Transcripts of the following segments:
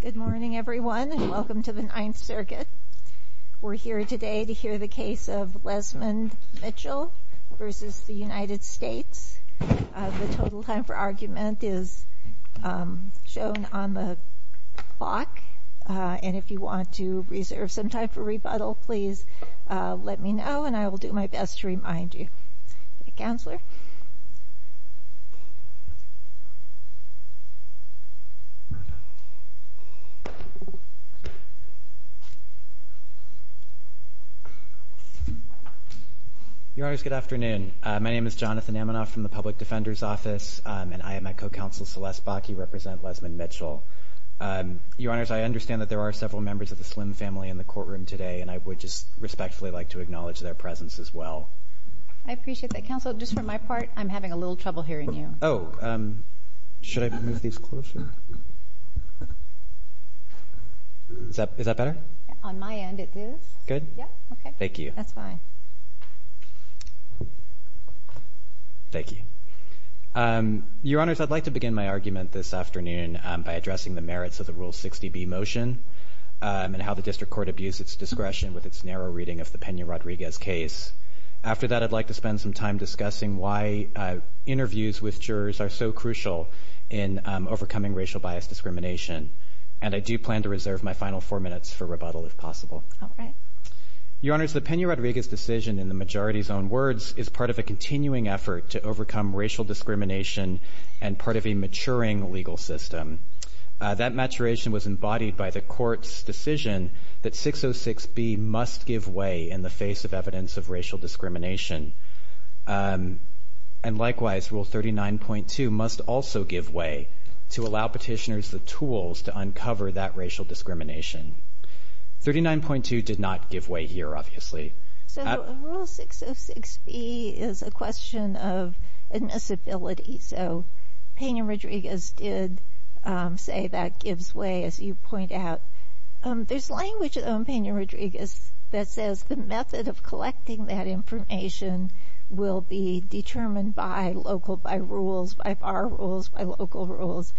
Good morning, everyone, and welcome to the Ninth Circuit. We're here today to hear the case of Lezmond Mitcheel v. United States. The total time for argument is shown on the clock, and if you want to reserve some time for rebuttal, please let me know, and I will do my best to remind you. Counselor. Your Honors, good afternoon. My name is Jonathan Amanoff from the Public Defender's Office, and I am at Co-Counsel Celeste Bach. You represent Lezmond Mitcheel. Your Honors, I understand that there are several members of the Slim family in the courtroom today, and I would just respectfully like to acknowledge their presence as well. I appreciate that, Counselor. Just for my part, I'm having a little trouble hearing you. Oh, should I move these closer? Is that better? On my end, it is. Good? Yeah. Okay. Thank you. That's fine. Thank you. Your Honors, I'd like to begin my argument this afternoon by addressing the merits of the Rule 60B motion and how the District Court abused its discretion with its narrow reading of the Peña-Rodriguez case. After that, I'd like to spend some time discussing why interviews with jurors are so crucial in overcoming racial bias discrimination, and I do plan to reserve my final four minutes for rebuttal if possible. All right. Your Honors, the Peña-Rodriguez decision, in the majority's own words, is part of a continuing effort to overcome racial discrimination and part of a maturing legal system. That maturation was embodied by the Court's decision that 606B must give way in the face of evidence of racial discrimination. And likewise, Rule 39.2 must also give way to allow petitioners the tools to uncover that racial discrimination. 39.2 did not give way here, obviously. So Rule 606B is a question of admissibility. So Peña-Rodriguez did say that gives way, as you point out. There's language, though, in Peña-Rodriguez that says the method of collecting that information will be determined by local, by rules, by bar rules, by local rules.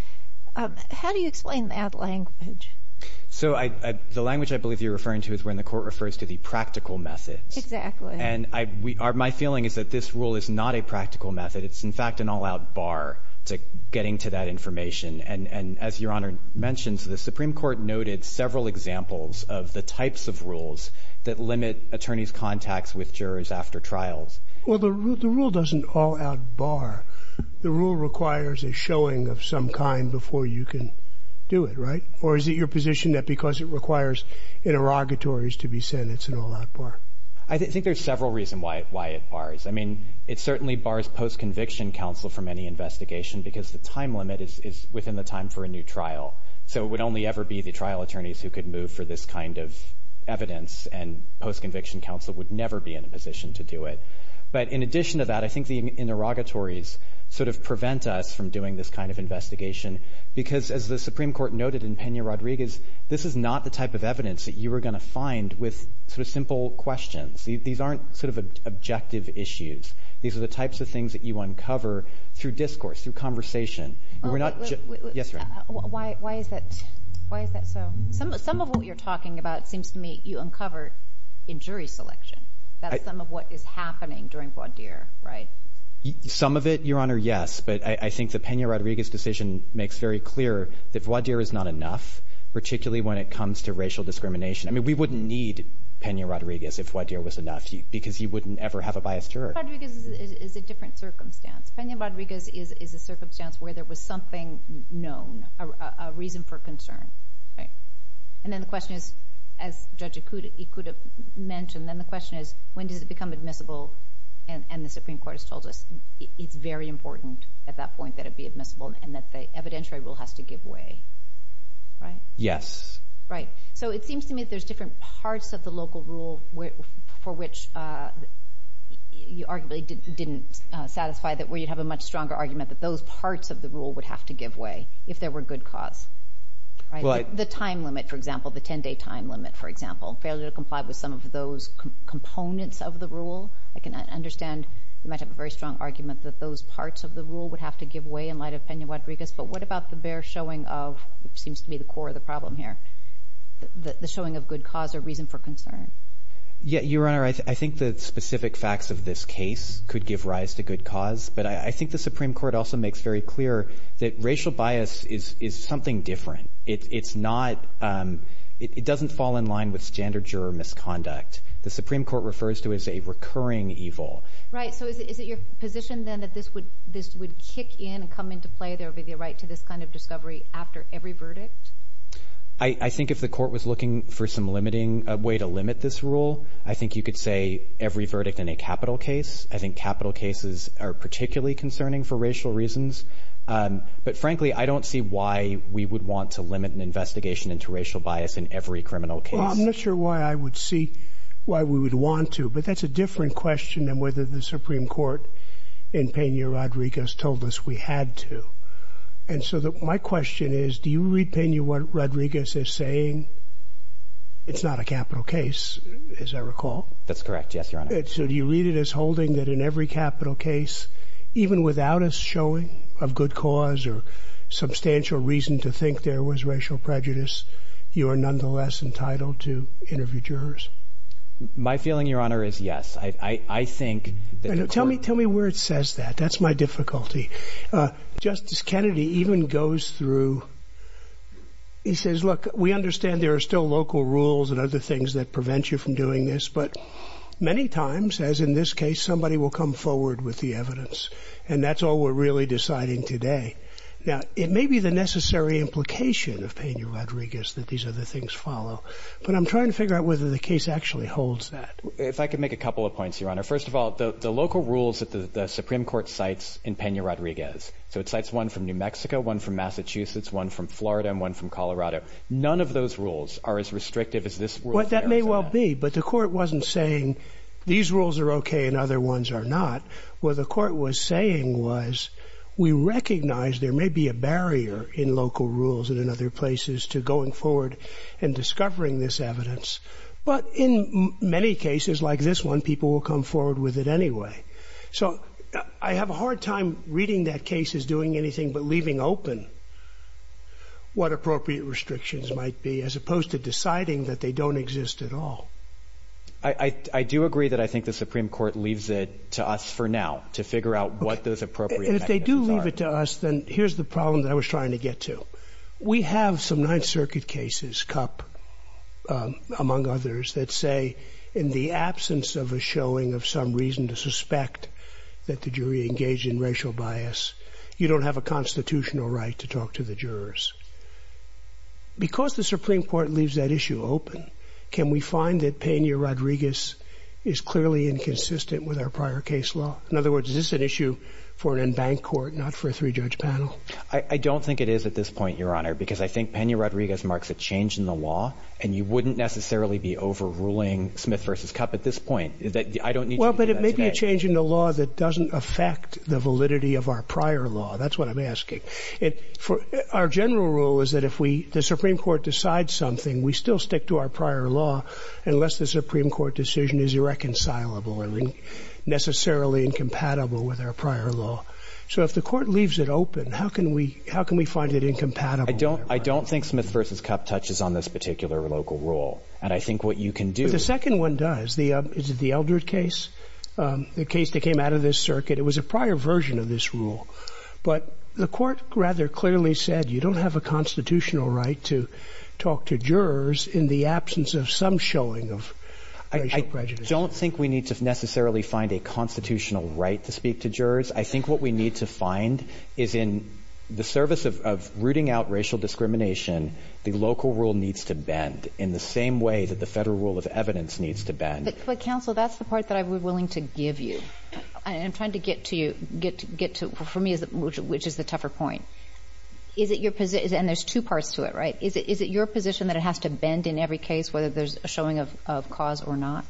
How do you explain that language? So the language I believe you're referring to is when the Court refers to the practical methods. Exactly. And my feeling is that this rule is not a practical method. It's, in fact, an all-out bar to getting to that information. And as Your Honor mentioned, the Supreme Court noted several examples of the types of rules that limit attorneys' contacts with jurors after trials. Well, the rule doesn't all-out bar. The rule requires a showing of some kind before you can do it, right? Or is it your position that because it requires interrogatories to be sent, it's an all-out bar? I think there's several reasons why it bars. I mean, it certainly bars post-conviction counsel from any investigation because the time limit is within the time for a new trial. So it would only ever be the trial attorneys who could move for this kind of evidence, and post-conviction counsel would never be in a position to do it. But in addition to that, I think the interrogatories sort of prevent us from doing this kind of investigation because, as the Supreme Court noted in Peña-Rodriguez, this is not the type of evidence that you are going to find with sort of simple questions. These aren't sort of objective issues. These are the types of things that you uncover through discourse, through conversation. Yes, ma'am. Why is that so? Some of what you're talking about seems to me you uncovered in jury selection. That's some of what is happening during voir dire, right? Some of it, Your Honor, yes, but I think the Peña-Rodriguez decision makes very clear that voir dire is not enough, particularly when it comes to racial discrimination. I mean, we wouldn't need Peña-Rodriguez if voir dire was enough because he wouldn't ever have a bias juror. Peña-Rodriguez is a different circumstance. Peña-Rodriguez is a circumstance where there was something known, a reason for concern, right? And then the question is, as Judge Ikuda mentioned, then the question is, when does it become admissible? And the Supreme Court has told us it's very important at that point that it be admissible and that the evidentiary rule has to give way, right? Yes. Right. So it seems to me there's different parts of the local rule for which you arguably didn't satisfy, where you'd have a much stronger argument that those parts of the rule would have to give way if there were good cause, right? The time limit, for example, the 10-day time limit, for example, failure to comply with some of those components of the rule. I can understand you might have a very strong argument that those parts of the rule would have to give way in light of Peña-Rodriguez, but what about the bare showing of what seems to be the core of the problem here, the showing of good cause or reason for concern? Your Honor, I think the specific facts of this case could give rise to good cause, but I think the Supreme Court also makes very clear that racial bias is something different. It doesn't fall in line with standard juror misconduct. The Supreme Court refers to it as a recurring evil. Right. So is it your position, then, that this would kick in and come into play? There would be the right to this kind of discovery after every verdict? I think if the court was looking for some way to limit this rule, I think you could say every verdict in a capital case. I think capital cases are particularly concerning for racial reasons. But, frankly, I don't see why we would want to limit an investigation into racial bias in every criminal case. Well, I'm not sure why I would see why we would want to, but that's a different question than whether the Supreme Court in Peña-Rodriguez told us we had to. And so my question is, do you read Peña-Rodriguez as saying it's not a capital case, as I recall? That's correct, yes, Your Honor. So do you read it as holding that in every capital case, even without a showing of good cause or substantial reason to think there was racial prejudice, you are nonetheless entitled to interview jurors? My feeling, Your Honor, is yes. I think that the court— Tell me where it says that. That's my difficulty. Justice Kennedy even goes through—he says, look, we understand there are still local rules and other things that prevent you from doing this, but many times, as in this case, somebody will come forward with the evidence, and that's all we're really deciding today. Now, it may be the necessary implication of Peña-Rodriguez that these other things follow, but I'm trying to figure out whether the case actually holds that. If I could make a couple of points, Your Honor. First of all, the local rules that the Supreme Court cites in Peña-Rodriguez— so it cites one from New Mexico, one from Massachusetts, one from Florida, and one from Colorado— none of those rules are as restrictive as this rule. Well, that may well be, but the court wasn't saying these rules are okay and other ones are not. What the court was saying was we recognize there may be a barrier in local rules and in other places to going forward and discovering this evidence, but in many cases like this one, people will come forward with it anyway. So I have a hard time reading that case as doing anything but leaving open what appropriate restrictions might be as opposed to deciding that they don't exist at all. I do agree that I think the Supreme Court leaves it to us for now to figure out what those appropriate mechanisms are. And if they do leave it to us, then here's the problem that I was trying to get to. We have some Ninth Circuit cases, Cupp among others, that say in the absence of a showing of some reason to suspect that the jury engaged in racial bias, you don't have a constitutional right to talk to the jurors. Because the Supreme Court leaves that issue open, can we find that Peña-Rodriguez is clearly inconsistent with our prior case law? In other words, is this an issue for an in-bank court, not for a three-judge panel? I don't think it is at this point, Your Honor, because I think Peña-Rodriguez marks a change in the law, and you wouldn't necessarily be overruling Smith v. Cupp at this point. I don't need you to do that today. Well, but it may be a change in the law that doesn't affect the validity of our prior law. That's what I'm asking. Our general rule is that if the Supreme Court decides something, we still stick to our prior law unless the Supreme Court decision is irreconcilable and necessarily incompatible with our prior law. So if the court leaves it open, how can we find it incompatible? I don't think Smith v. Cupp touches on this particular local rule. And I think what you can do— The second one does. Is it the Eldred case, the case that came out of this circuit? It was a prior version of this rule. But the Court rather clearly said you don't have a constitutional right to talk to jurors in the absence of some showing of racial prejudice. I don't think we need to necessarily find a constitutional right to speak to jurors. I think what we need to find is in the service of rooting out racial discrimination, the local rule needs to bend in the same way that the Federal rule of evidence needs to bend. But, Counsel, that's the part that I would be willing to give you. I'm trying to get to you — get to — for me, which is the tougher point. Is it your — and there's two parts to it, right? Is it your position that it has to bend in every case, whether there's a showing of cause or not?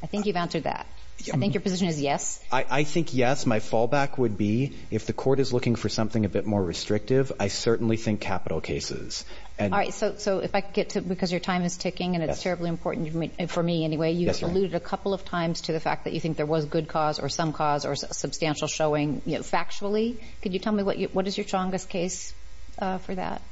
I think you've answered that. I think your position is yes. I think yes. My fallback would be if the Court is looking for something a bit more restrictive, I certainly think capital cases. All right. So if I could get to — because your time is ticking, and it's terribly important for me, anyway. Yes, Your Honor. You alluded a couple of times to the fact that you think there was good cause or some cause or substantial showing, you know, factually. Could you tell me what is your strongest case for that?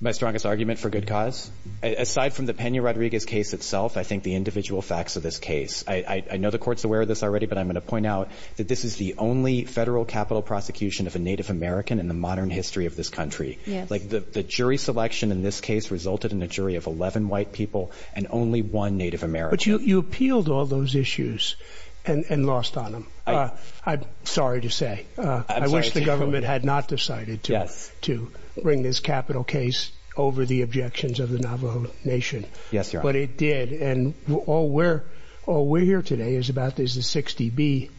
My strongest argument for good cause? Aside from the Peña-Rodriguez case itself, I think the individual facts of this case. I know the Court's aware of this already, but I'm going to point out that this is the only Federal capital prosecution of a Native American in the modern history of this country. Yes. Like, the jury selection in this case resulted in a jury of 11 white people and only one Native American. But you appealed all those issues and lost on them. I'm sorry to say. I wish the government had not decided to bring this capital case over the objections of the Navajo Nation. Yes, Your Honor. But it did. And all we're here today is about this 60B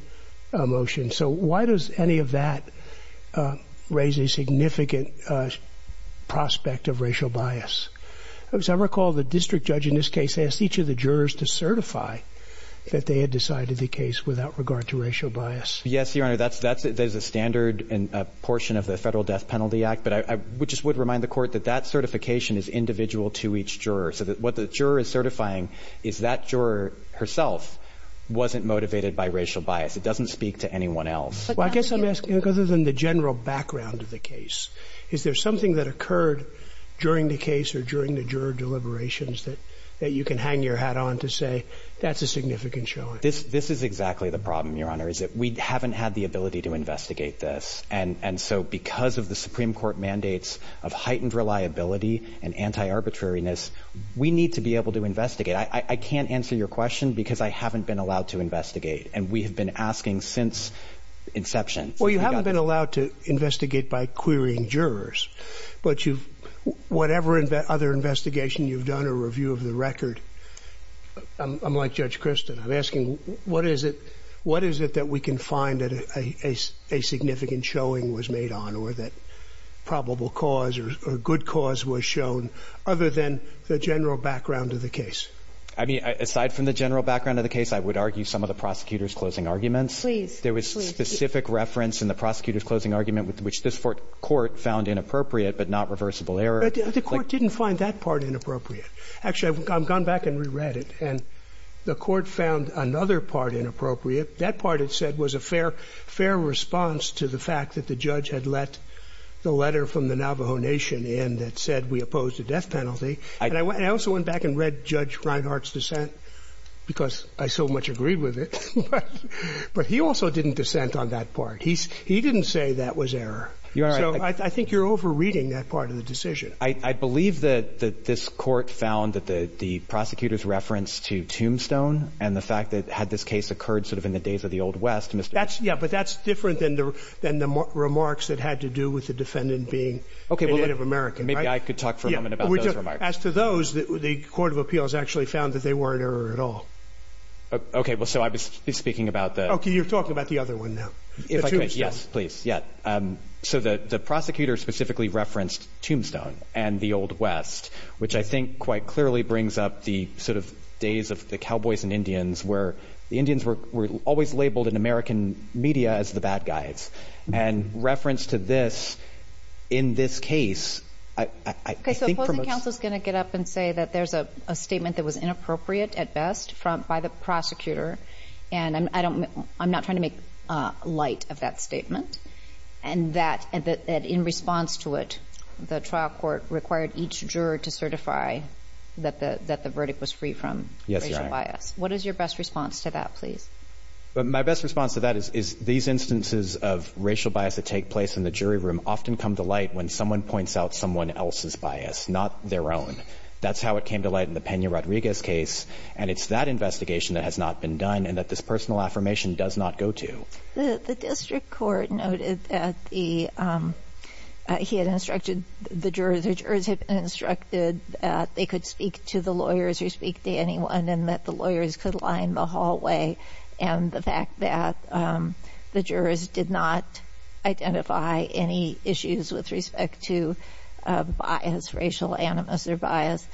motion. So why does any of that raise a significant prospect of racial bias? Because I recall the district judge in this case asked each of the jurors to certify that they had decided the case without regard to racial bias. Yes, Your Honor. That's a standard portion of the Federal Death Penalty Act. But I just would remind the Court that that certification is individual to each juror. So what the juror is certifying is that juror herself wasn't motivated by racial bias. It doesn't speak to anyone else. Well, I guess I'm asking, other than the general background of the case, is there something that occurred during the case or during the juror deliberations that you can hang your hat on to say that's a significant showing? This is exactly the problem, Your Honor, is that we haven't had the ability to investigate this. And so because of the Supreme Court mandates of heightened reliability and anti-arbitrariness, we need to be able to investigate. I can't answer your question because I haven't been allowed to investigate. And we have been asking since inception. Well, you haven't been allowed to investigate by querying jurors. But whatever other investigation you've done or review of the record, unlike Judge Christin, I'm asking, what is it that we can find that a significant showing was made on or that probable cause or good cause was shown other than the general background of the case? I mean, aside from the general background of the case, I would argue some of the prosecutor's closing arguments. Please. There was specific reference in the prosecutor's closing argument which this Court found inappropriate but not reversible error. The Court didn't find that part inappropriate. Actually, I've gone back and reread it. And the Court found another part inappropriate. That part, it said, was a fair response to the fact that the judge had let the letter from the Navajo Nation in that said we oppose the death penalty. And I also went back and read Judge Reinhart's dissent because I so much agreed with it. But he also didn't dissent on that part. He didn't say that was error. You're right. So I think you're overreading that part of the decision. I believe that this Court found that the prosecutor's reference to Tombstone and the fact that had this case occurred sort of in the days of the Old West, Mr. Yeah, but that's different than the remarks that had to do with the defendant being Native American. Maybe I could talk for a moment about those remarks. As to those, the Court of Appeals actually found that they weren't error at all. Okay. Well, so I was speaking about the Okay. You're talking about the other one now. If I could. Yes, please. Yeah. So the prosecutor specifically referenced Tombstone and the Old West, which I think quite clearly brings up the sort of days of the Cowboys and Indians where the Indians were always labeled in American media as the bad guys. And reference to this in this case, I think for most Okay. So opposing counsel is going to get up and say that there's a statement that was inappropriate at best by the prosecutor, and I'm not trying to make light of that statement, and that in response to it, the trial court required each juror to certify that the verdict was free from racial bias. Yes, Your Honor. What is your best response to that, please? My best response to that is these instances of racial bias that take place in the jury room often come to light when someone points out someone else's bias, not their own. That's how it came to light in the Pena-Rodriguez case, and it's that investigation that has not been done and that this personal affirmation does not go to. The district court noted that he had instructed the jurors or jurors had instructed that they could speak to the lawyers or speak to anyone and that the lawyers could and the fact that the jurors did not identify any issues with respect to bias, racial animus or bias,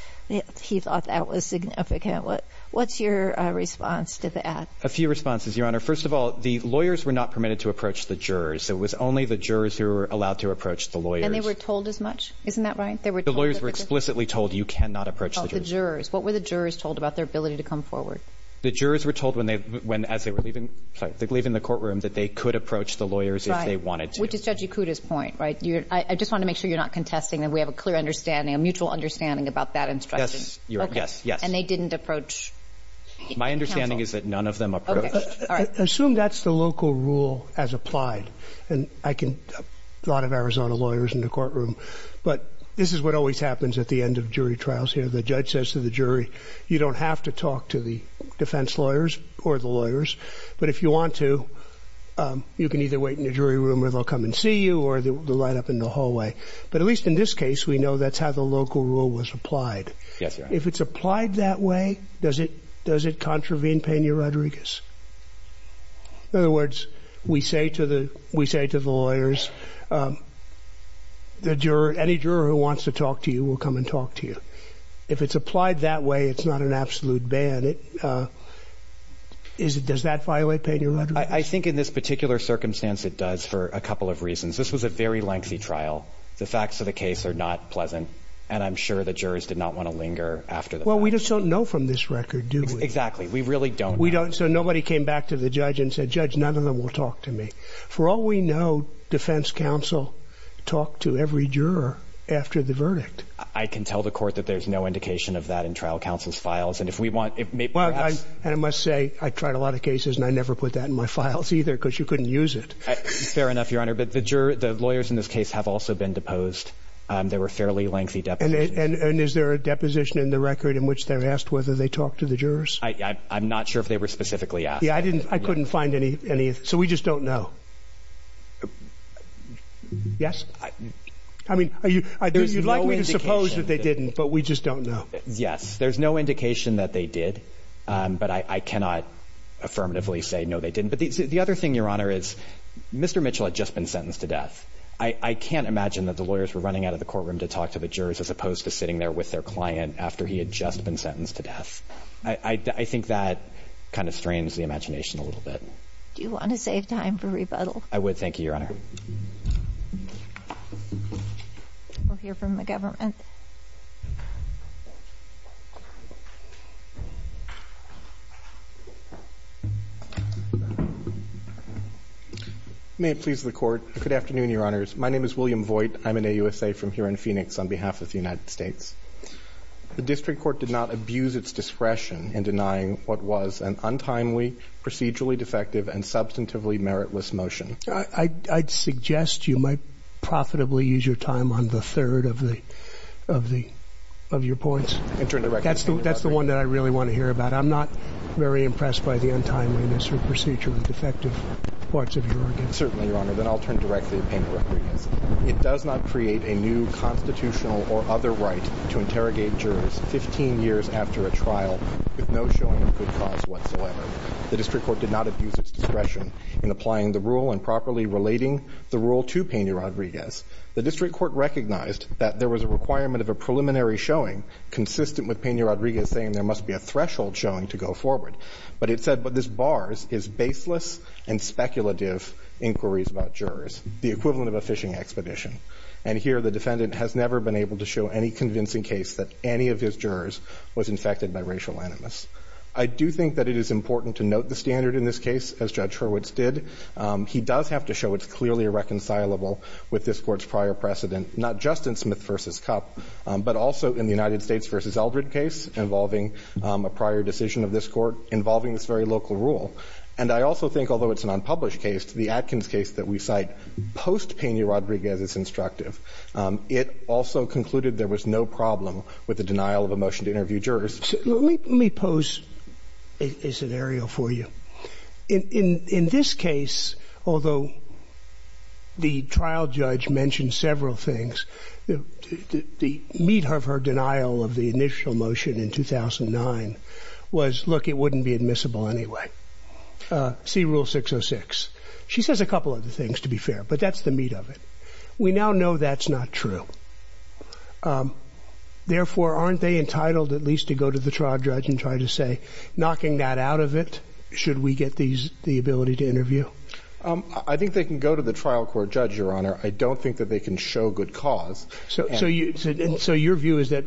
he thought that was significant. What's your response to that? A few responses, Your Honor. First of all, the lawyers were not permitted to approach the jurors. It was only the jurors who were allowed to approach the lawyers. And they were told as much? Isn't that right? The lawyers were explicitly told you cannot approach the jurors. Oh, the jurors. What were the jurors told about their ability to come forward? The jurors were told as they were leaving the courtroom that they could approach the lawyers if they wanted to. Which is Judge Ikuda's point, right? I just want to make sure you're not contesting that we have a clear understanding, a mutual understanding about that instruction. Yes, yes, yes. And they didn't approach counsel? My understanding is that none of them approached. Assume that's the local rule as applied. And I can talk to a lot of Arizona lawyers in the courtroom, but this is what always happens at the end of jury trials here. The judge says to the jury, you don't have to talk to the defense lawyers or the lawyers, but if you want to, you can either wait in the jury room or they'll come and see you or they'll line up in the hallway. But at least in this case, we know that's how the local rule was applied. Yes, Your Honor. If it's applied that way, does it contravene Pena-Rodriguez? In other words, we say to the lawyers, the juror, any juror who wants to talk to you will come and talk to you. If it's applied that way, it's not an absolute ban. Does that violate Pena-Rodriguez? I think in this particular circumstance it does for a couple of reasons. This was a very lengthy trial. The facts of the case are not pleasant, and I'm sure the jurors did not want to linger after the fact. Well, we just don't know from this record, do we? Exactly. We really don't. So nobody came back to the judge and said, Judge, none of them will talk to me. For all we know, defense counsel talked to every juror after the verdict. I can tell the court that there's no indication of that in trial counsel's files. And if we want, it may perhaps— And I must say, I tried a lot of cases, and I never put that in my files either because you couldn't use it. Fair enough, Your Honor. But the lawyers in this case have also been deposed. There were fairly lengthy depositions. And is there a deposition in the record in which they're asked whether they talked to the jurors? I'm not sure if they were specifically asked. Yeah, I couldn't find any. So we just don't know. Yes? I mean, you'd like me to suppose that they didn't, but we just don't know. Yes, there's no indication that they did. But I cannot affirmatively say, no, they didn't. But the other thing, Your Honor, is Mr. Mitchell had just been sentenced to death. I can't imagine that the lawyers were running out of the courtroom to talk to the jurors as opposed to sitting there with their client after he had just been sentenced to death. I think that kind of strains the imagination a little bit. Do you want to save time for rebuttal? I would. Thank you, Your Honor. We'll hear from the government. May it please the Court. Good afternoon, Your Honors. My name is William Voigt. I'm an AUSA from here in Phoenix on behalf of the United States. The district court did not abuse its discretion in denying what was an untimely, procedurally defective, and substantively meritless motion. I'd suggest you might profitably use your time on the third of your points. That's the one that I really want to hear about. I'm not very impressed by the untimeliness or procedurally defective parts of your argument. Certainly, Your Honor. Then I'll turn directly to Pena Rodriguez. It does not create a new constitutional or other right to interrogate jurors 15 years after a trial with no showing of good cause whatsoever. The district court did not abuse its discretion in applying the rule and properly relating the rule to Pena Rodriguez. The district court recognized that there was a requirement of a preliminary showing consistent with Pena Rodriguez saying there must be a threshold showing to go forward. But it said what this bars is baseless and speculative inquiries about jurors, the equivalent of a fishing expedition. And here the defendant has never been able to show any convincing case that any of his jurors was infected by racial animus. I do think that it is important to note the standard in this case, as Judge Hurwitz did. He does have to show it's clearly reconcilable with this Court's prior precedent, not just in Smith v. Cup, but also in the United States v. Eldred case involving a prior decision of this Court involving this very local rule. And I also think, although it's an unpublished case, the Atkins case that we cite post-Pena Rodriguez is instructive. It also concluded there was no problem with the denial of a motion to interview Let me pose a scenario for you. In this case, although the trial judge mentioned several things, the meat of her denial of the initial motion in 2009 was, look, it wouldn't be admissible anyway. See Rule 606. She says a couple other things, to be fair, but that's the meat of it. We now know that's not true. Therefore, aren't they entitled at least to go to the trial judge and try to say, knocking that out of it, should we get the ability to interview? I think they can go to the trial court judge, Your Honor. I don't think that they can show good cause. So your view is that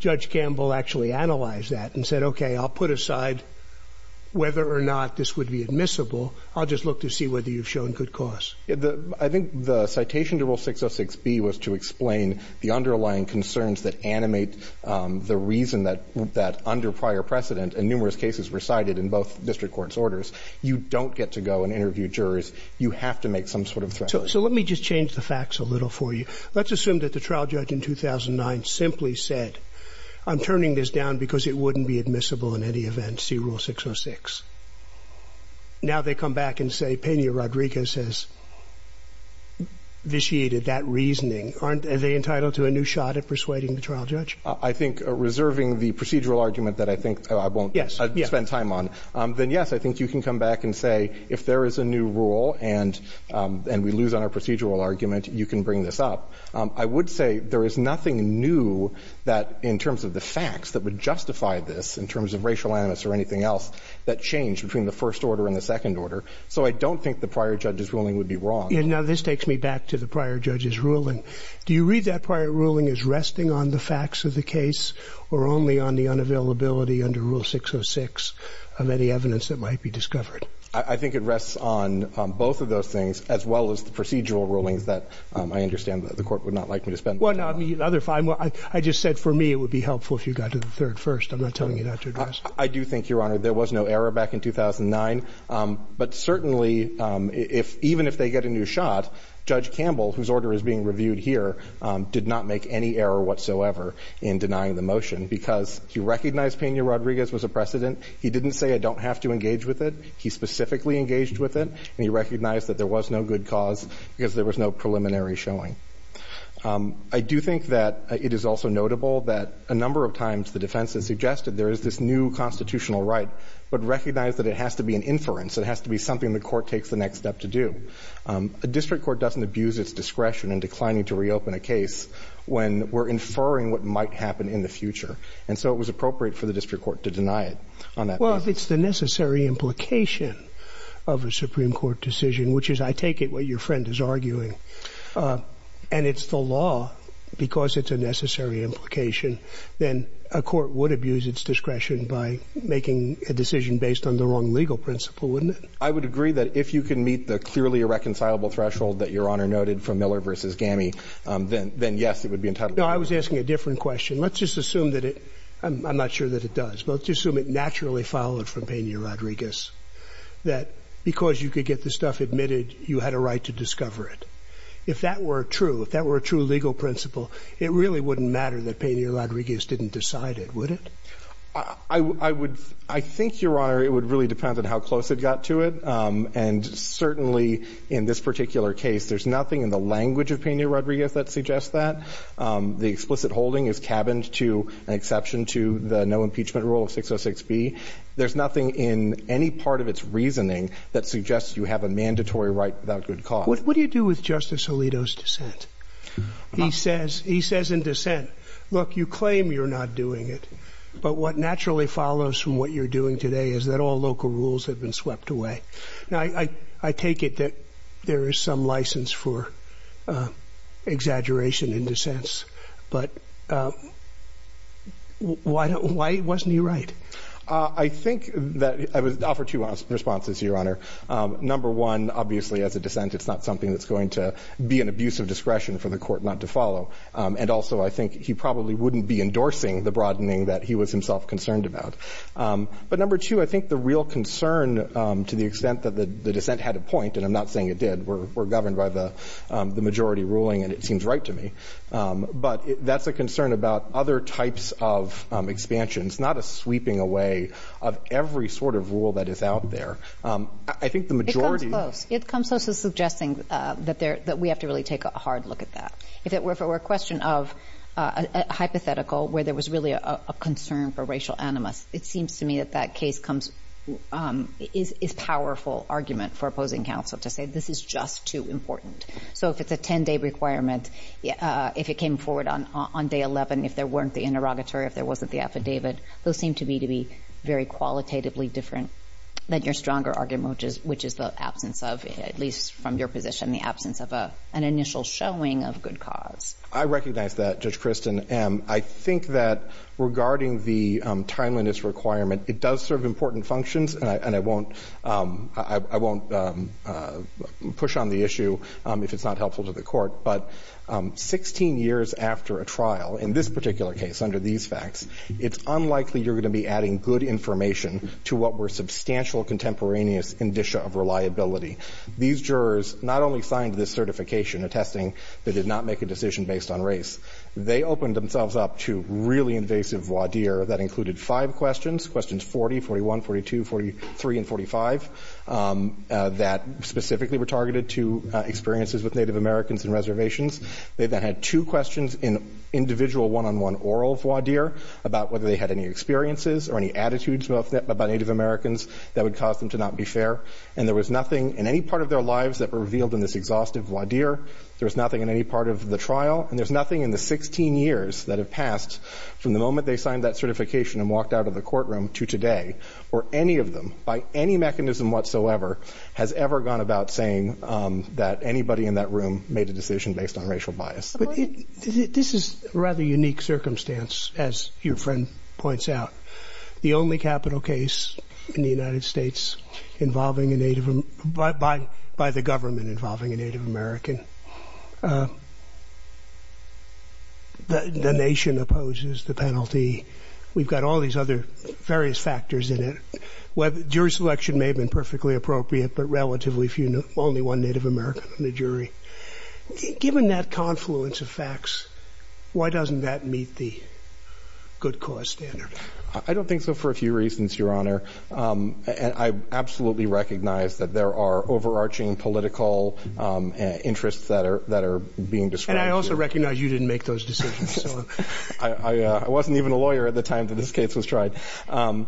Judge Campbell actually analyzed that and said, okay, I'll put aside whether or not this would be admissible. I'll just look to see whether you've shown good cause. I think the citation to Rule 606B was to explain the underlying concerns that animate the reason that under prior precedent and numerous cases recited in both district courts' orders, you don't get to go and interview jurors. You have to make some sort of threat. So let me just change the facts a little for you. Let's assume that the trial judge in 2009 simply said, I'm turning this down because it wouldn't be admissible in any event. See Rule 606. Now they come back and say Peña-Rodriguez has vitiated that reasoning. Aren't they entitled to a new shot at persuading the trial judge? I think reserving the procedural argument that I think I won't spend time on, then yes, I think you can come back and say if there is a new rule and we lose on our procedural argument, you can bring this up. I would say there is nothing new that in terms of the facts that would justify this in terms of racial animus or anything else that changed between the first order and the second order. So I don't think the prior judge's ruling would be wrong. Now this takes me back to the prior judge's ruling. Do you read that prior ruling as resting on the facts of the case or only on the unavailability under Rule 606 of any evidence that might be discovered? I think it rests on both of those things as well as the procedural rulings that I understand the court would not like me to spend time on. Well, I mean, I just said for me it would be helpful if you got to the third first. I'm not telling you not to address it. I do think, Your Honor, there was no error back in 2009. But certainly, even if they get a new shot, Judge Campbell, whose order is being reviewed here, did not make any error whatsoever in denying the motion because he recognized Peña-Rodriguez was a precedent. He didn't say I don't have to engage with it. He specifically engaged with it, and he recognized that there was no good cause because there was no preliminary showing. I do think that it is also notable that a number of times the defense has suggested there is this new constitutional right but recognized that it has to be an inference. It has to be something the court takes the next step to do. A district court doesn't abuse its discretion in declining to reopen a case when we're inferring what might happen in the future. And so it was appropriate for the district court to deny it on that basis. Well, if it's the necessary implication of a Supreme Court decision, which is, I take it, what your friend is arguing, and it's the law, because it's a necessary implication, then a court would abuse its discretion by making a decision based on the wrong legal principle, wouldn't it? I would agree that if you can meet the clearly irreconcilable threshold that Your Honor noted for Miller v. Gammy, then, yes, it would be entitled to it. No, I was asking a different question. Let's just assume that it – I'm not sure that it does, but let's just assume it naturally followed from Peña-Rodriguez, that because you could get the stuff and you admitted you had a right to discover it. If that were true, if that were a true legal principle, it really wouldn't matter that Peña-Rodriguez didn't decide it, would it? I would – I think, Your Honor, it would really depend on how close it got to it. And certainly in this particular case, there's nothing in the language of Peña-Rodriguez that suggests that. The explicit holding is cabined to an exception to the no impeachment rule of 606b. There's nothing in any part of its reasoning that suggests you have a mandatory right without good cause. What do you do with Justice Alito's dissent? He says in dissent, look, you claim you're not doing it, but what naturally follows from what you're doing today is that all local rules have been swept away. Now, I take it that there is some license for exaggeration in dissents, but why wasn't he right? I think that – I would offer two responses, Your Honor. Number one, obviously, as a dissent, it's not something that's going to be an abuse of discretion for the Court not to follow. And also, I think he probably wouldn't be endorsing the broadening that he was himself concerned about. But number two, I think the real concern, to the extent that the dissent had a point – and I'm not saying it did, we're governed by the majority ruling and it seems right to me – but that's a concern about other types of expansions, not a sweeping away of every sort of rule that is out there. I think the majority – It comes close. It comes close to suggesting that we have to really take a hard look at that. If it were a question of a hypothetical where there was really a concern for racial animus, it seems to me that that case is a powerful argument for opposing counsel to say this is just too important. So if it's a 10-day requirement, if it came forward on day 11, if there weren't the interrogatory, if there wasn't the affidavit, those seem to me to be very qualitatively different than your stronger argument, which is the absence of, at least from your position, the absence of an initial showing of good cause. I recognize that, Judge Kristen. I think that regarding the timeliness requirement, it does serve important functions and I won't push on the issue if it's not helpful to the Court. But 16 years after a trial, in this particular case, under these facts, it's unlikely you're going to be adding good information to what were substantial contemporaneous indicia of reliability. These jurors not only signed this certification attesting they did not make a decision based on race, they opened themselves up to really invasive voir dire that included five questions, questions 40, 41, 42, 43, and 45, that specifically were targeted to experiences with Native Americans and reservations. They then had two questions in individual one-on-one oral voir dire about whether they had any experiences or any attitudes about Native Americans that would cause them to not be fair. And there was nothing in any part of their lives that were revealed in this exhaustive voir dire. There was nothing in any part of the trial. And there's nothing in the 16 years that have passed from the moment they signed that certification and walked out of the courtroom to today, or any of them, by any in that room made a decision based on racial bias. But this is a rather unique circumstance, as your friend points out. The only capital case in the United States involving a Native American, by the government involving a Native American, the nation opposes the penalty. We've got all these other various factors in it. Juris election may have been perfectly appropriate, but relatively few, only one Native American in the jury. Given that confluence of facts, why doesn't that meet the good cause standard? I don't think so for a few reasons, your Honor. And I absolutely recognize that there are overarching political interests that are being described here. And I also recognize you didn't make those decisions. I wasn't even a lawyer at the time that this case was tried. But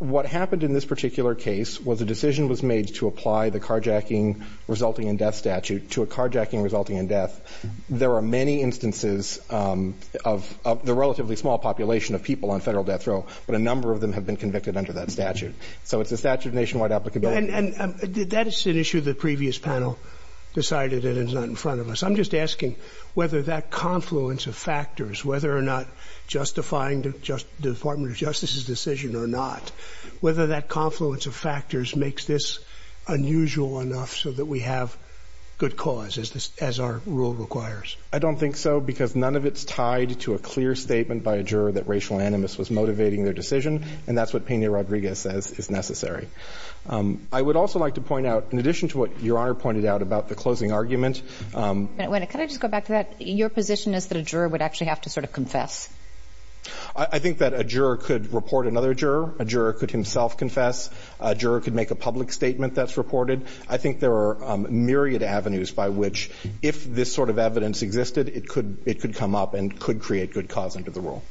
what happened in this particular case was a decision was made to apply the carjacking resulting in death statute to a carjacking resulting in death. There are many instances of the relatively small population of people on federal death row, but a number of them have been convicted under that statute. So it's a statute of nationwide applicability. And that is an issue the previous panel decided and is not in front of us. I'm just asking whether that confluence of factors, whether or not justifying the Department of Justice's decision or not, whether that confluence of factors makes this unusual enough so that we have good cause as our rule requires. I don't think so because none of it's tied to a clear statement by a juror that racial animus was motivating their decision. And that's what Pena-Rodriguez says is necessary. I would also like to point out, in addition to what your Honor pointed out about the closing argument. Wait a minute. Can I just go back to that? Your position is that a juror would actually have to sort of confess. I think that a juror could report another juror. A juror could himself confess. A juror could make a public statement that's reported. I think there are myriad avenues by which, if this sort of evidence existed, it could come up and could create good cause under the rule.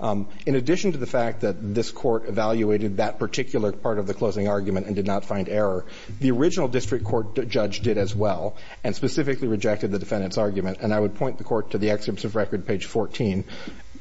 In addition to the fact that this Court evaluated that particular part of the closing argument and did not find error, the original district court judge did as well and specifically rejected the defendant's argument. And I would point the Court to the excerpts of record, page 14,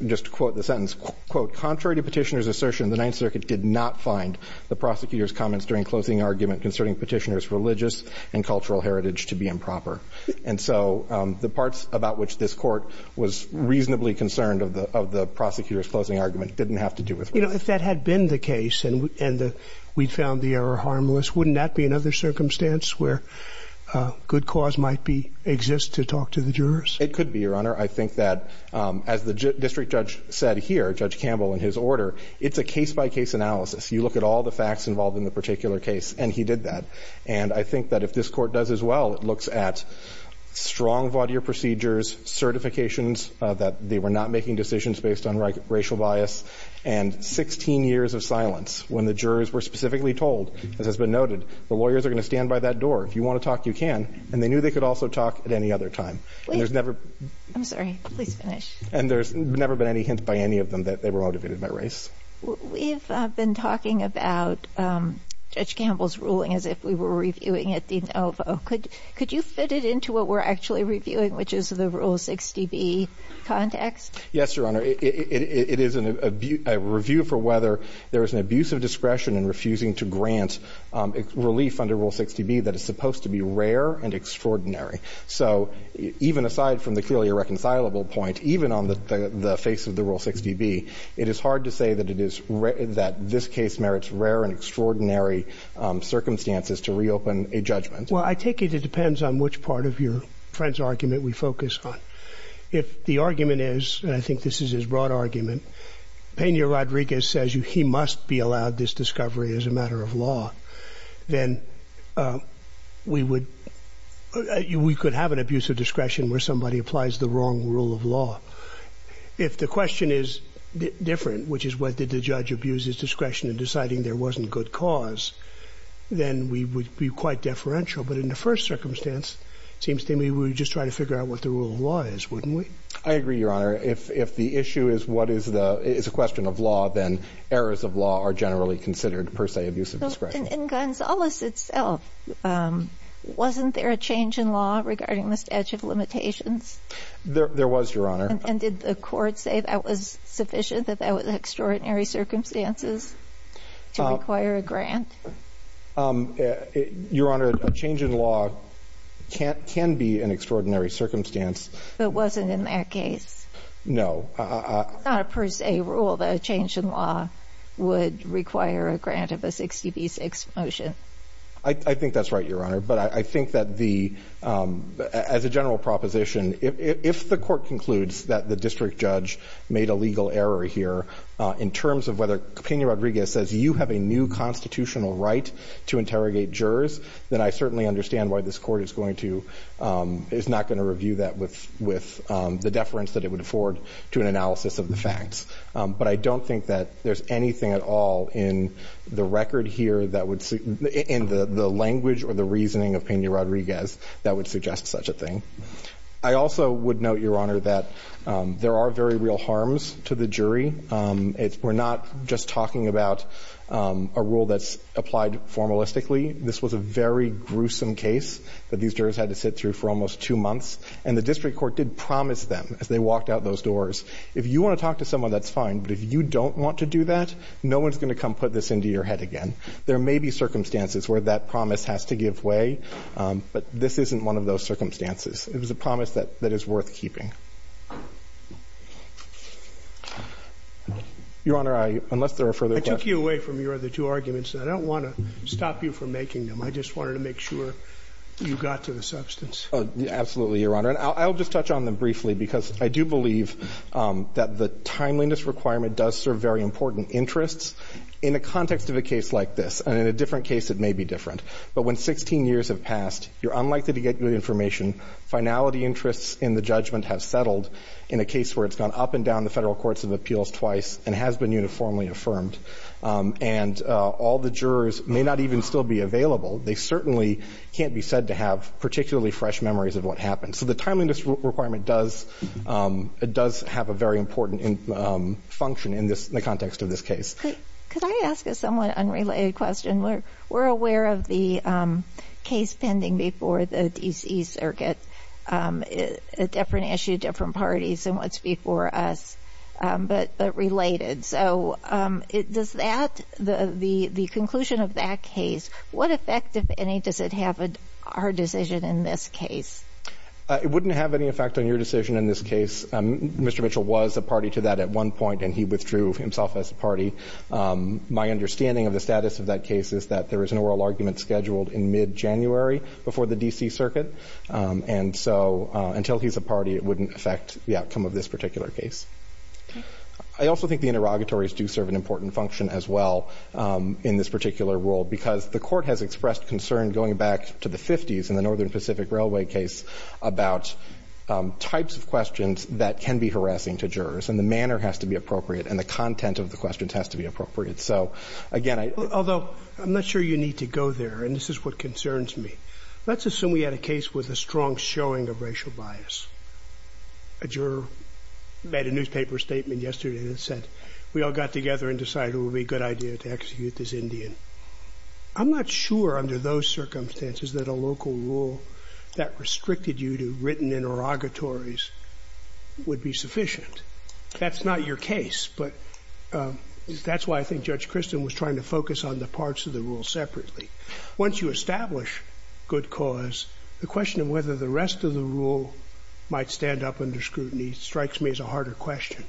just to quote the sentence, quote, contrary to Petitioner's assertion, the Ninth Circuit did not find the prosecutor's comments during closing argument concerning Petitioner's religious and cultural heritage to be improper. And so the parts about which this Court was reasonably concerned of the prosecutor's closing argument didn't have to do with religion. You know, if that had been the case and we found the error harmless, wouldn't that be another circumstance where good cause might exist to talk to the jurors? It could be, Your Honor. I think that, as the district judge said here, Judge Campbell, in his order, it's a case-by-case analysis. You look at all the facts involved in the particular case, and he did that. And I think that if this Court does as well, it looks at strong vautier procedures, certifications that they were not making decisions based on racial bias, and 16 years of silence when the jurors were specifically told, as has been noted, the lawyers are going to stand by that door. If you want to talk, you can. And they knew they could also talk at any other time. And there's never been any hint by any of them that they were motivated by race. We've been talking about Judge Campbell's ruling as if we were reviewing it de novo. Could you fit it into what we're actually reviewing, which is the Rule 60B context? Yes, Your Honor. It is a review for whether there is an abuse of discretion in refusing to grant relief under Rule 60B that is supposed to be rare and extraordinary. So even aside from the clearly irreconcilable point, even on the face of the Rule 60B, it is hard to say that this case merits rare and extraordinary circumstances to reopen a judgment. Well, I take it it depends on which part of your friend's argument we focus on. If the argument is, and I think this is his broad argument, Peña Rodriguez says he must be allowed this discovery as a matter of law, then we could have an abuse of discretion where somebody applies the wrong rule of law. If the question is different, which is whether the judge abused his discretion in deciding there wasn't good cause, then we would be quite deferential. But in the first circumstance, it seems to me we would just try to figure out what the rule of law is, wouldn't we? I agree, Your Honor. If the issue is a question of law, then errors of law are generally considered, per se, abuse of discretion. In Gonzales itself, wasn't there a change in law regarding the statute of limitations? There was, Your Honor. And did the court say that was sufficient, that that was extraordinary circumstances to require a grant? Your Honor, a change in law can be an extraordinary circumstance. But it wasn't in that case? No. It's not a per se rule that a change in law would require a grant of a 60 v. 6 motion. I think that's right, Your Honor. But I think that the as a general proposition, if the court concludes that the district judge made a legal error here in terms of whether Peña Rodriguez says you have a new constitutional right to interrogate jurors, then I certainly understand why this court is going to, is not going to review that with the deference that it would afford to an analysis of the facts. But I don't think that there's anything at all in the record here that would, in the language or the reasoning of Peña Rodriguez that would suggest such a thing. I also would note, Your Honor, that there are very real harms to the jury. We're not just talking about a rule that's applied formalistically. This was a very gruesome case that these jurors had to sit through for almost two months. And the district court did promise them as they walked out those doors, if you want to talk to someone, that's fine. But if you don't want to do that, no one's going to come put this into your head again. There may be circumstances where that promise has to give way. But this isn't one of those circumstances. It was a promise that is worth keeping. Your Honor, I, unless there are further questions. I took you away from your other two arguments. I don't want to stop you from making them. I just wanted to make sure you got to the substance. Oh, absolutely, Your Honor. And I'll just touch on them briefly because I do believe that the timeliness requirement does serve very important interests in a context of a case like this. And in a different case, it may be different. But when 16 years have passed, you're unlikely to get good information, finality interests in the judgment have settled in a case where it's gone up and down the federal courts of appeals twice and has been uniformly affirmed. And all the jurors may not even still be available. They certainly can't be said to have particularly fresh memories of what happened. So the timeliness requirement does have a very important function in the context of this case. Could I ask a somewhat unrelated question? We're aware of the case pending before the D.C. Circuit, a different issue, different parties than what's before us, but related. So does that, the conclusion of that case, what effect, if any, does it have on our decision in this case? It wouldn't have any effect on your decision in this case. Mr. Mitchell was a party to that at one point, and he withdrew himself as a party. My understanding of the status of that case is that there is an oral argument scheduled in mid-January before the D.C. Circuit. And so until he's a party, it wouldn't affect the outcome of this particular case. I also think the interrogatories do serve an important function as well in this particular role because the Court has expressed concern going back to the 50s in the Northern Pacific Railway case about types of questions that can be harassing to jurors, and the manner has to be appropriate, and the content of the questions has to be appropriate. So, again, I — Although, I'm not sure you need to go there, and this is what concerns me. Let's assume we had a case with a strong showing of racial bias. A juror made a newspaper statement yesterday that said we all got together and decided it would be a good idea to execute this Indian. I'm not sure under those circumstances that a local rule that restricted you to written interrogatories would be sufficient. That's not your case, but that's why I think Judge Christin was trying to focus on the parts of the rule separately. Once you establish good cause, the question of whether the rest of the rule might stand up under scrutiny strikes me as a harder question.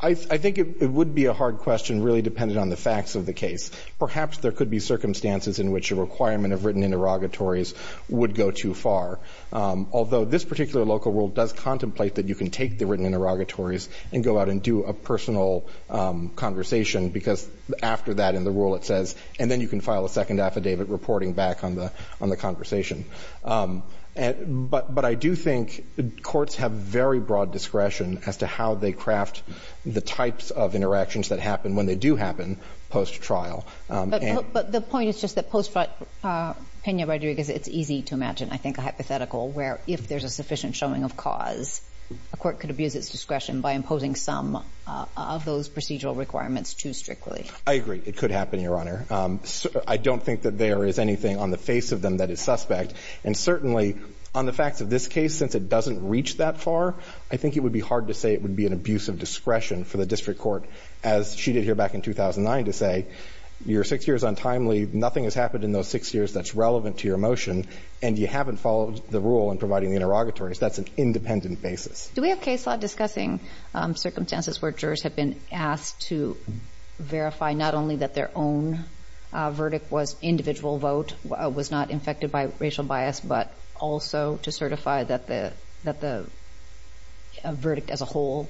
I think it would be a hard question really dependent on the facts of the case. Perhaps there could be circumstances in which a requirement of written interrogatories would go too far. Although, this particular local rule does contemplate that you can take the written interrogatories and go out and do a personal conversation because after that in the rule it says, and then you can file a second affidavit reporting back on the conversation. But I do think courts have very broad discretion as to how they craft the types of interactions that happen when they do happen post-trial. But the point is just that post-trial, Pena Rodriguez, it's easy to imagine, I think, a hypothetical where if there's a sufficient showing of cause, a court could abuse its discretion by imposing some of those procedural requirements too strictly. I agree. It could happen, Your Honor. I don't think that there is anything on the face of them that is suspect. And certainly on the facts of this case, since it doesn't reach that far, I think it would be hard to say it would be an abuse of discretion for the district court, as she did here back in 2009, to say your six years untimely, nothing has happened in those six years that's relevant to your motion, and you haven't followed the rule in providing the interrogatories. That's an independent basis. Do we have case law discussing circumstances where jurors have been asked to verify not only that their own verdict was individual vote, was not infected by racial bias, but also to certify that the verdict as a whole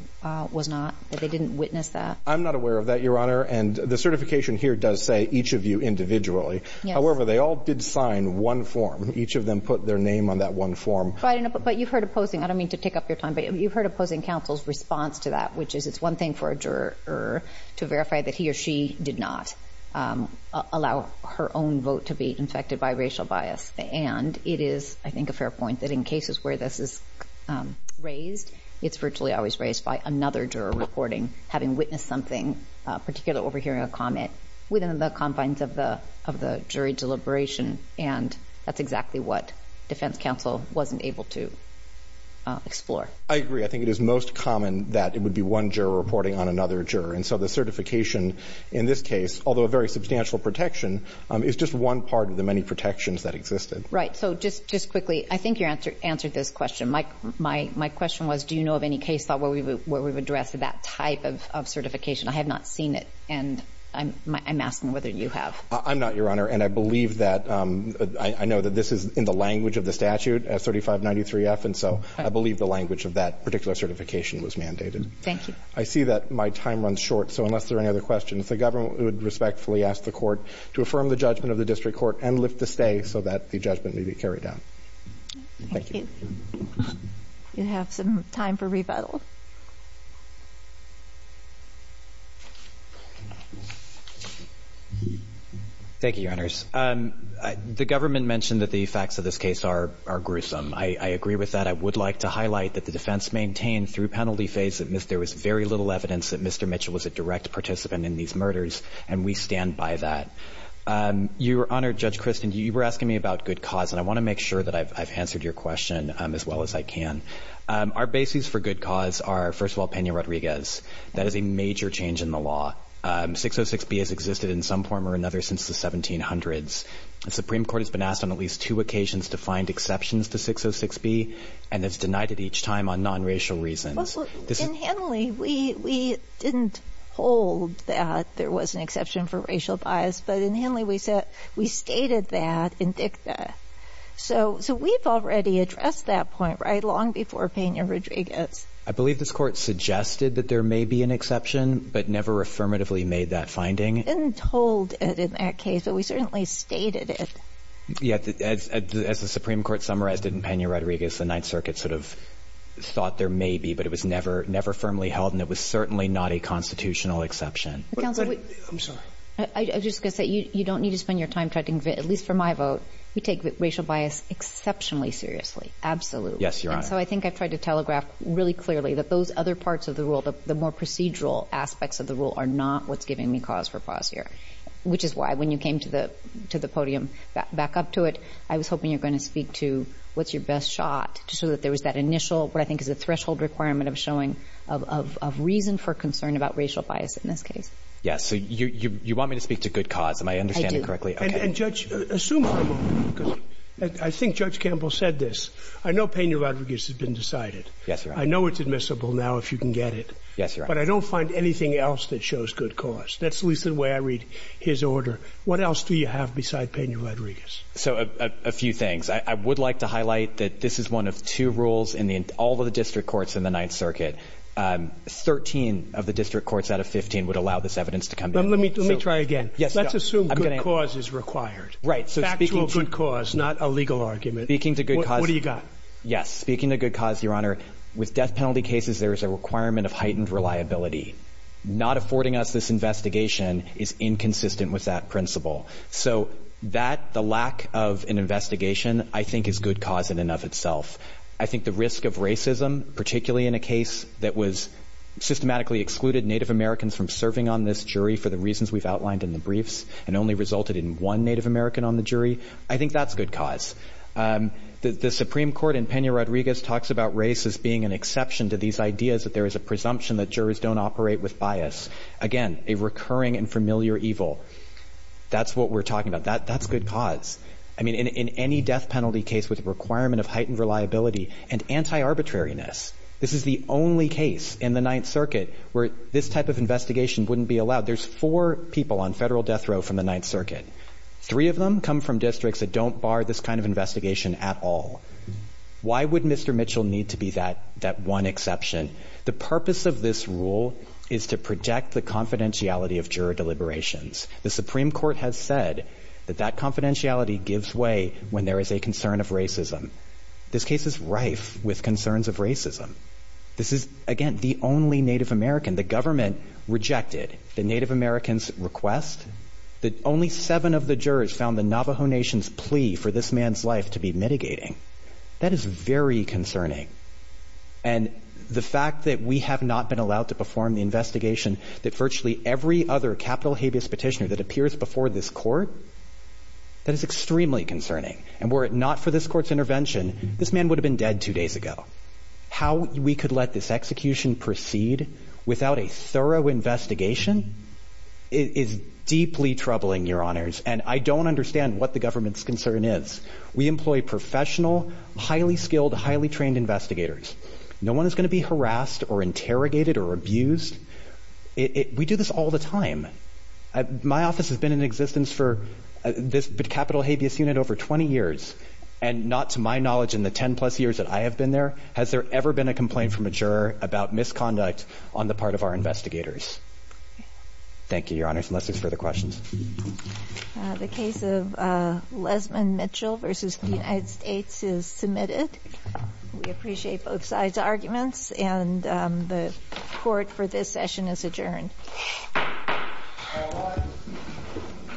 was not, that they didn't witness that? I'm not aware of that, Your Honor. And the certification here does say each of you individually. Yes. However, they all did sign one form. Each of them put their name on that one form. But you've heard opposing, I don't mean to take up your time, but you've heard opposing counsel's response to that, which is it's one thing for a juror to verify that he or she did not allow her own vote to be infected by racial bias. And it is, I think, a fair point that in cases where this is raised, it's virtually always raised by another juror reporting, having witnessed something, particularly overhearing a comment within the confines of the jury deliberation. And that's exactly what defense counsel wasn't able to explore. I agree. I think it is most common that it would be one juror reporting on another juror. And so the certification in this case, although a very substantial protection, is just one part of the many protections that existed. Right. So just quickly, I think you answered this question. My question was, do you know of any case where we've addressed that type of certification? I have not seen it. And I'm asking whether you have. I'm not, Your Honor. And I believe that – I know that this is in the language of the statute, 3593F. And so I believe the language of that particular certification was mandated. Thank you. I see that my time runs short. So unless there are any other questions, the government would respectfully ask the Court to affirm the judgment of the district court and lift the stay so that the judgment may be carried out. Thank you. You have some time for rebuttal. Thank you, Your Honors. The government mentioned that the effects of this case are gruesome. I agree with that. I would like to highlight that the defense maintained through penalty phase that there was very little evidence that Mr. Mitchell was a direct participant in these murders, and we stand by that. Your Honor, Judge Christin, you were asking me about good cause, and I want to make sure that I've answered your question as well as I can. Our basis for good cause are, first of all, Peña Rodriguez. That is a major change in the law. 606B has existed in some form or another since the 1700s. The Supreme Court has been asked on at least two occasions to find exceptions to 606B, and it's denied it each time on nonracial reasons. In Henley, we didn't hold that there was an exception for racial bias, but in Henley, we stated that in dicta. So we've already addressed that point, right, long before Peña Rodriguez. I believe this Court suggested that there may be an exception but never affirmatively made that finding. We didn't hold it in that case, but we certainly stated it. Yeah, as the Supreme Court summarized it in Peña Rodriguez, the Ninth Circuit sort of thought there may be, but it was never firmly held, and it was certainly not a constitutional exception. Counsel, I'm sorry. I was just going to say you don't need to spend your time trying to convince, at least for my vote, you take racial bias exceptionally seriously, absolutely. Yes, Your Honor. So I think I've tried to telegraph really clearly that those other parts of the rule, the more procedural aspects of the rule, are not what's giving me cause for pause here, which is why when you came to the podium back up to it, I was hoping you were going to speak to what's your best shot so that there was that initial what I think is a threshold requirement of reason for concern about racial bias in this case. Yes. So you want me to speak to good cause. Am I understanding correctly? I do. Okay. And, Judge, assume I'm wrong, because I think Judge Campbell said this. I know Peña Rodriguez has been decided. Yes, Your Honor. I know it's admissible now if you can get it. Yes, Your Honor. But I don't find anything else that shows good cause. That's at least the way I read his order. What else do you have beside Peña Rodriguez? So a few things. I would like to highlight that this is one of two rules in all of the district courts in the Ninth Circuit. Thirteen of the district courts out of 15 would allow this evidence to come in. Let me try again. Let's assume good cause is required. Right. Factual good cause, not a legal argument. Speaking to good cause. What do you got? Yes. Speaking to good cause, Your Honor, with death penalty cases, there is a requirement of heightened reliability. Not affording us this investigation is inconsistent with that principle. So that, the lack of an investigation, I think is good cause in and of itself. I think the risk of racism, particularly in a case that was systematically excluded Native Americans from serving on this jury for the reasons we've outlined in the briefs and only resulted in one Native American on the jury, I think that's good cause. The Supreme Court in Peña Rodriguez talks about race as being an exception to these ideas that there is a presumption that jurors don't operate with bias. Again, a recurring and familiar evil. That's what we're talking about. That's good cause. I mean, in any death penalty case with a requirement of heightened reliability and anti-arbitrariness, this is the only case in the Ninth Circuit where this type of investigation wouldn't be allowed. There's four people on Federal death row from the Ninth Circuit. Three of them come from districts that don't bar this kind of investigation at all. Why would Mr. Mitchell need to be that one exception? The purpose of this rule is to protect the confidentiality of juror deliberations. The Supreme Court has said that that confidentiality gives way when there is a concern of racism. This case is rife with concerns of racism. This is, again, the only Native American. The government rejected the Native American's request. Only seven of the jurors found the Navajo Nation's plea for this man's life to be mitigating. That is very concerning. And the fact that we have not been allowed to perform the investigation that virtually every other capital habeas petitioner that appears before this Court, that is extremely concerning. And were it not for this Court's intervention, this man would have been dead two days ago. How we could let this execution proceed without a thorough investigation is deeply troubling, Your Honors. And I don't understand what the government's concern is. We employ professional, highly skilled, highly trained investigators. No one is going to be harassed or interrogated or abused. We do this all the time. My office has been in existence for this capital habeas unit over 20 years. And not to my knowledge, in the 10-plus years that I have been there, has there ever been a complaint from a juror about misconduct on the part of our investigators. Thank you, Your Honors. Unless there's further questions. The case of Lesmond Mitchell v. The United States is submitted. We appreciate both sides' arguments. And the Court for this session is adjourned.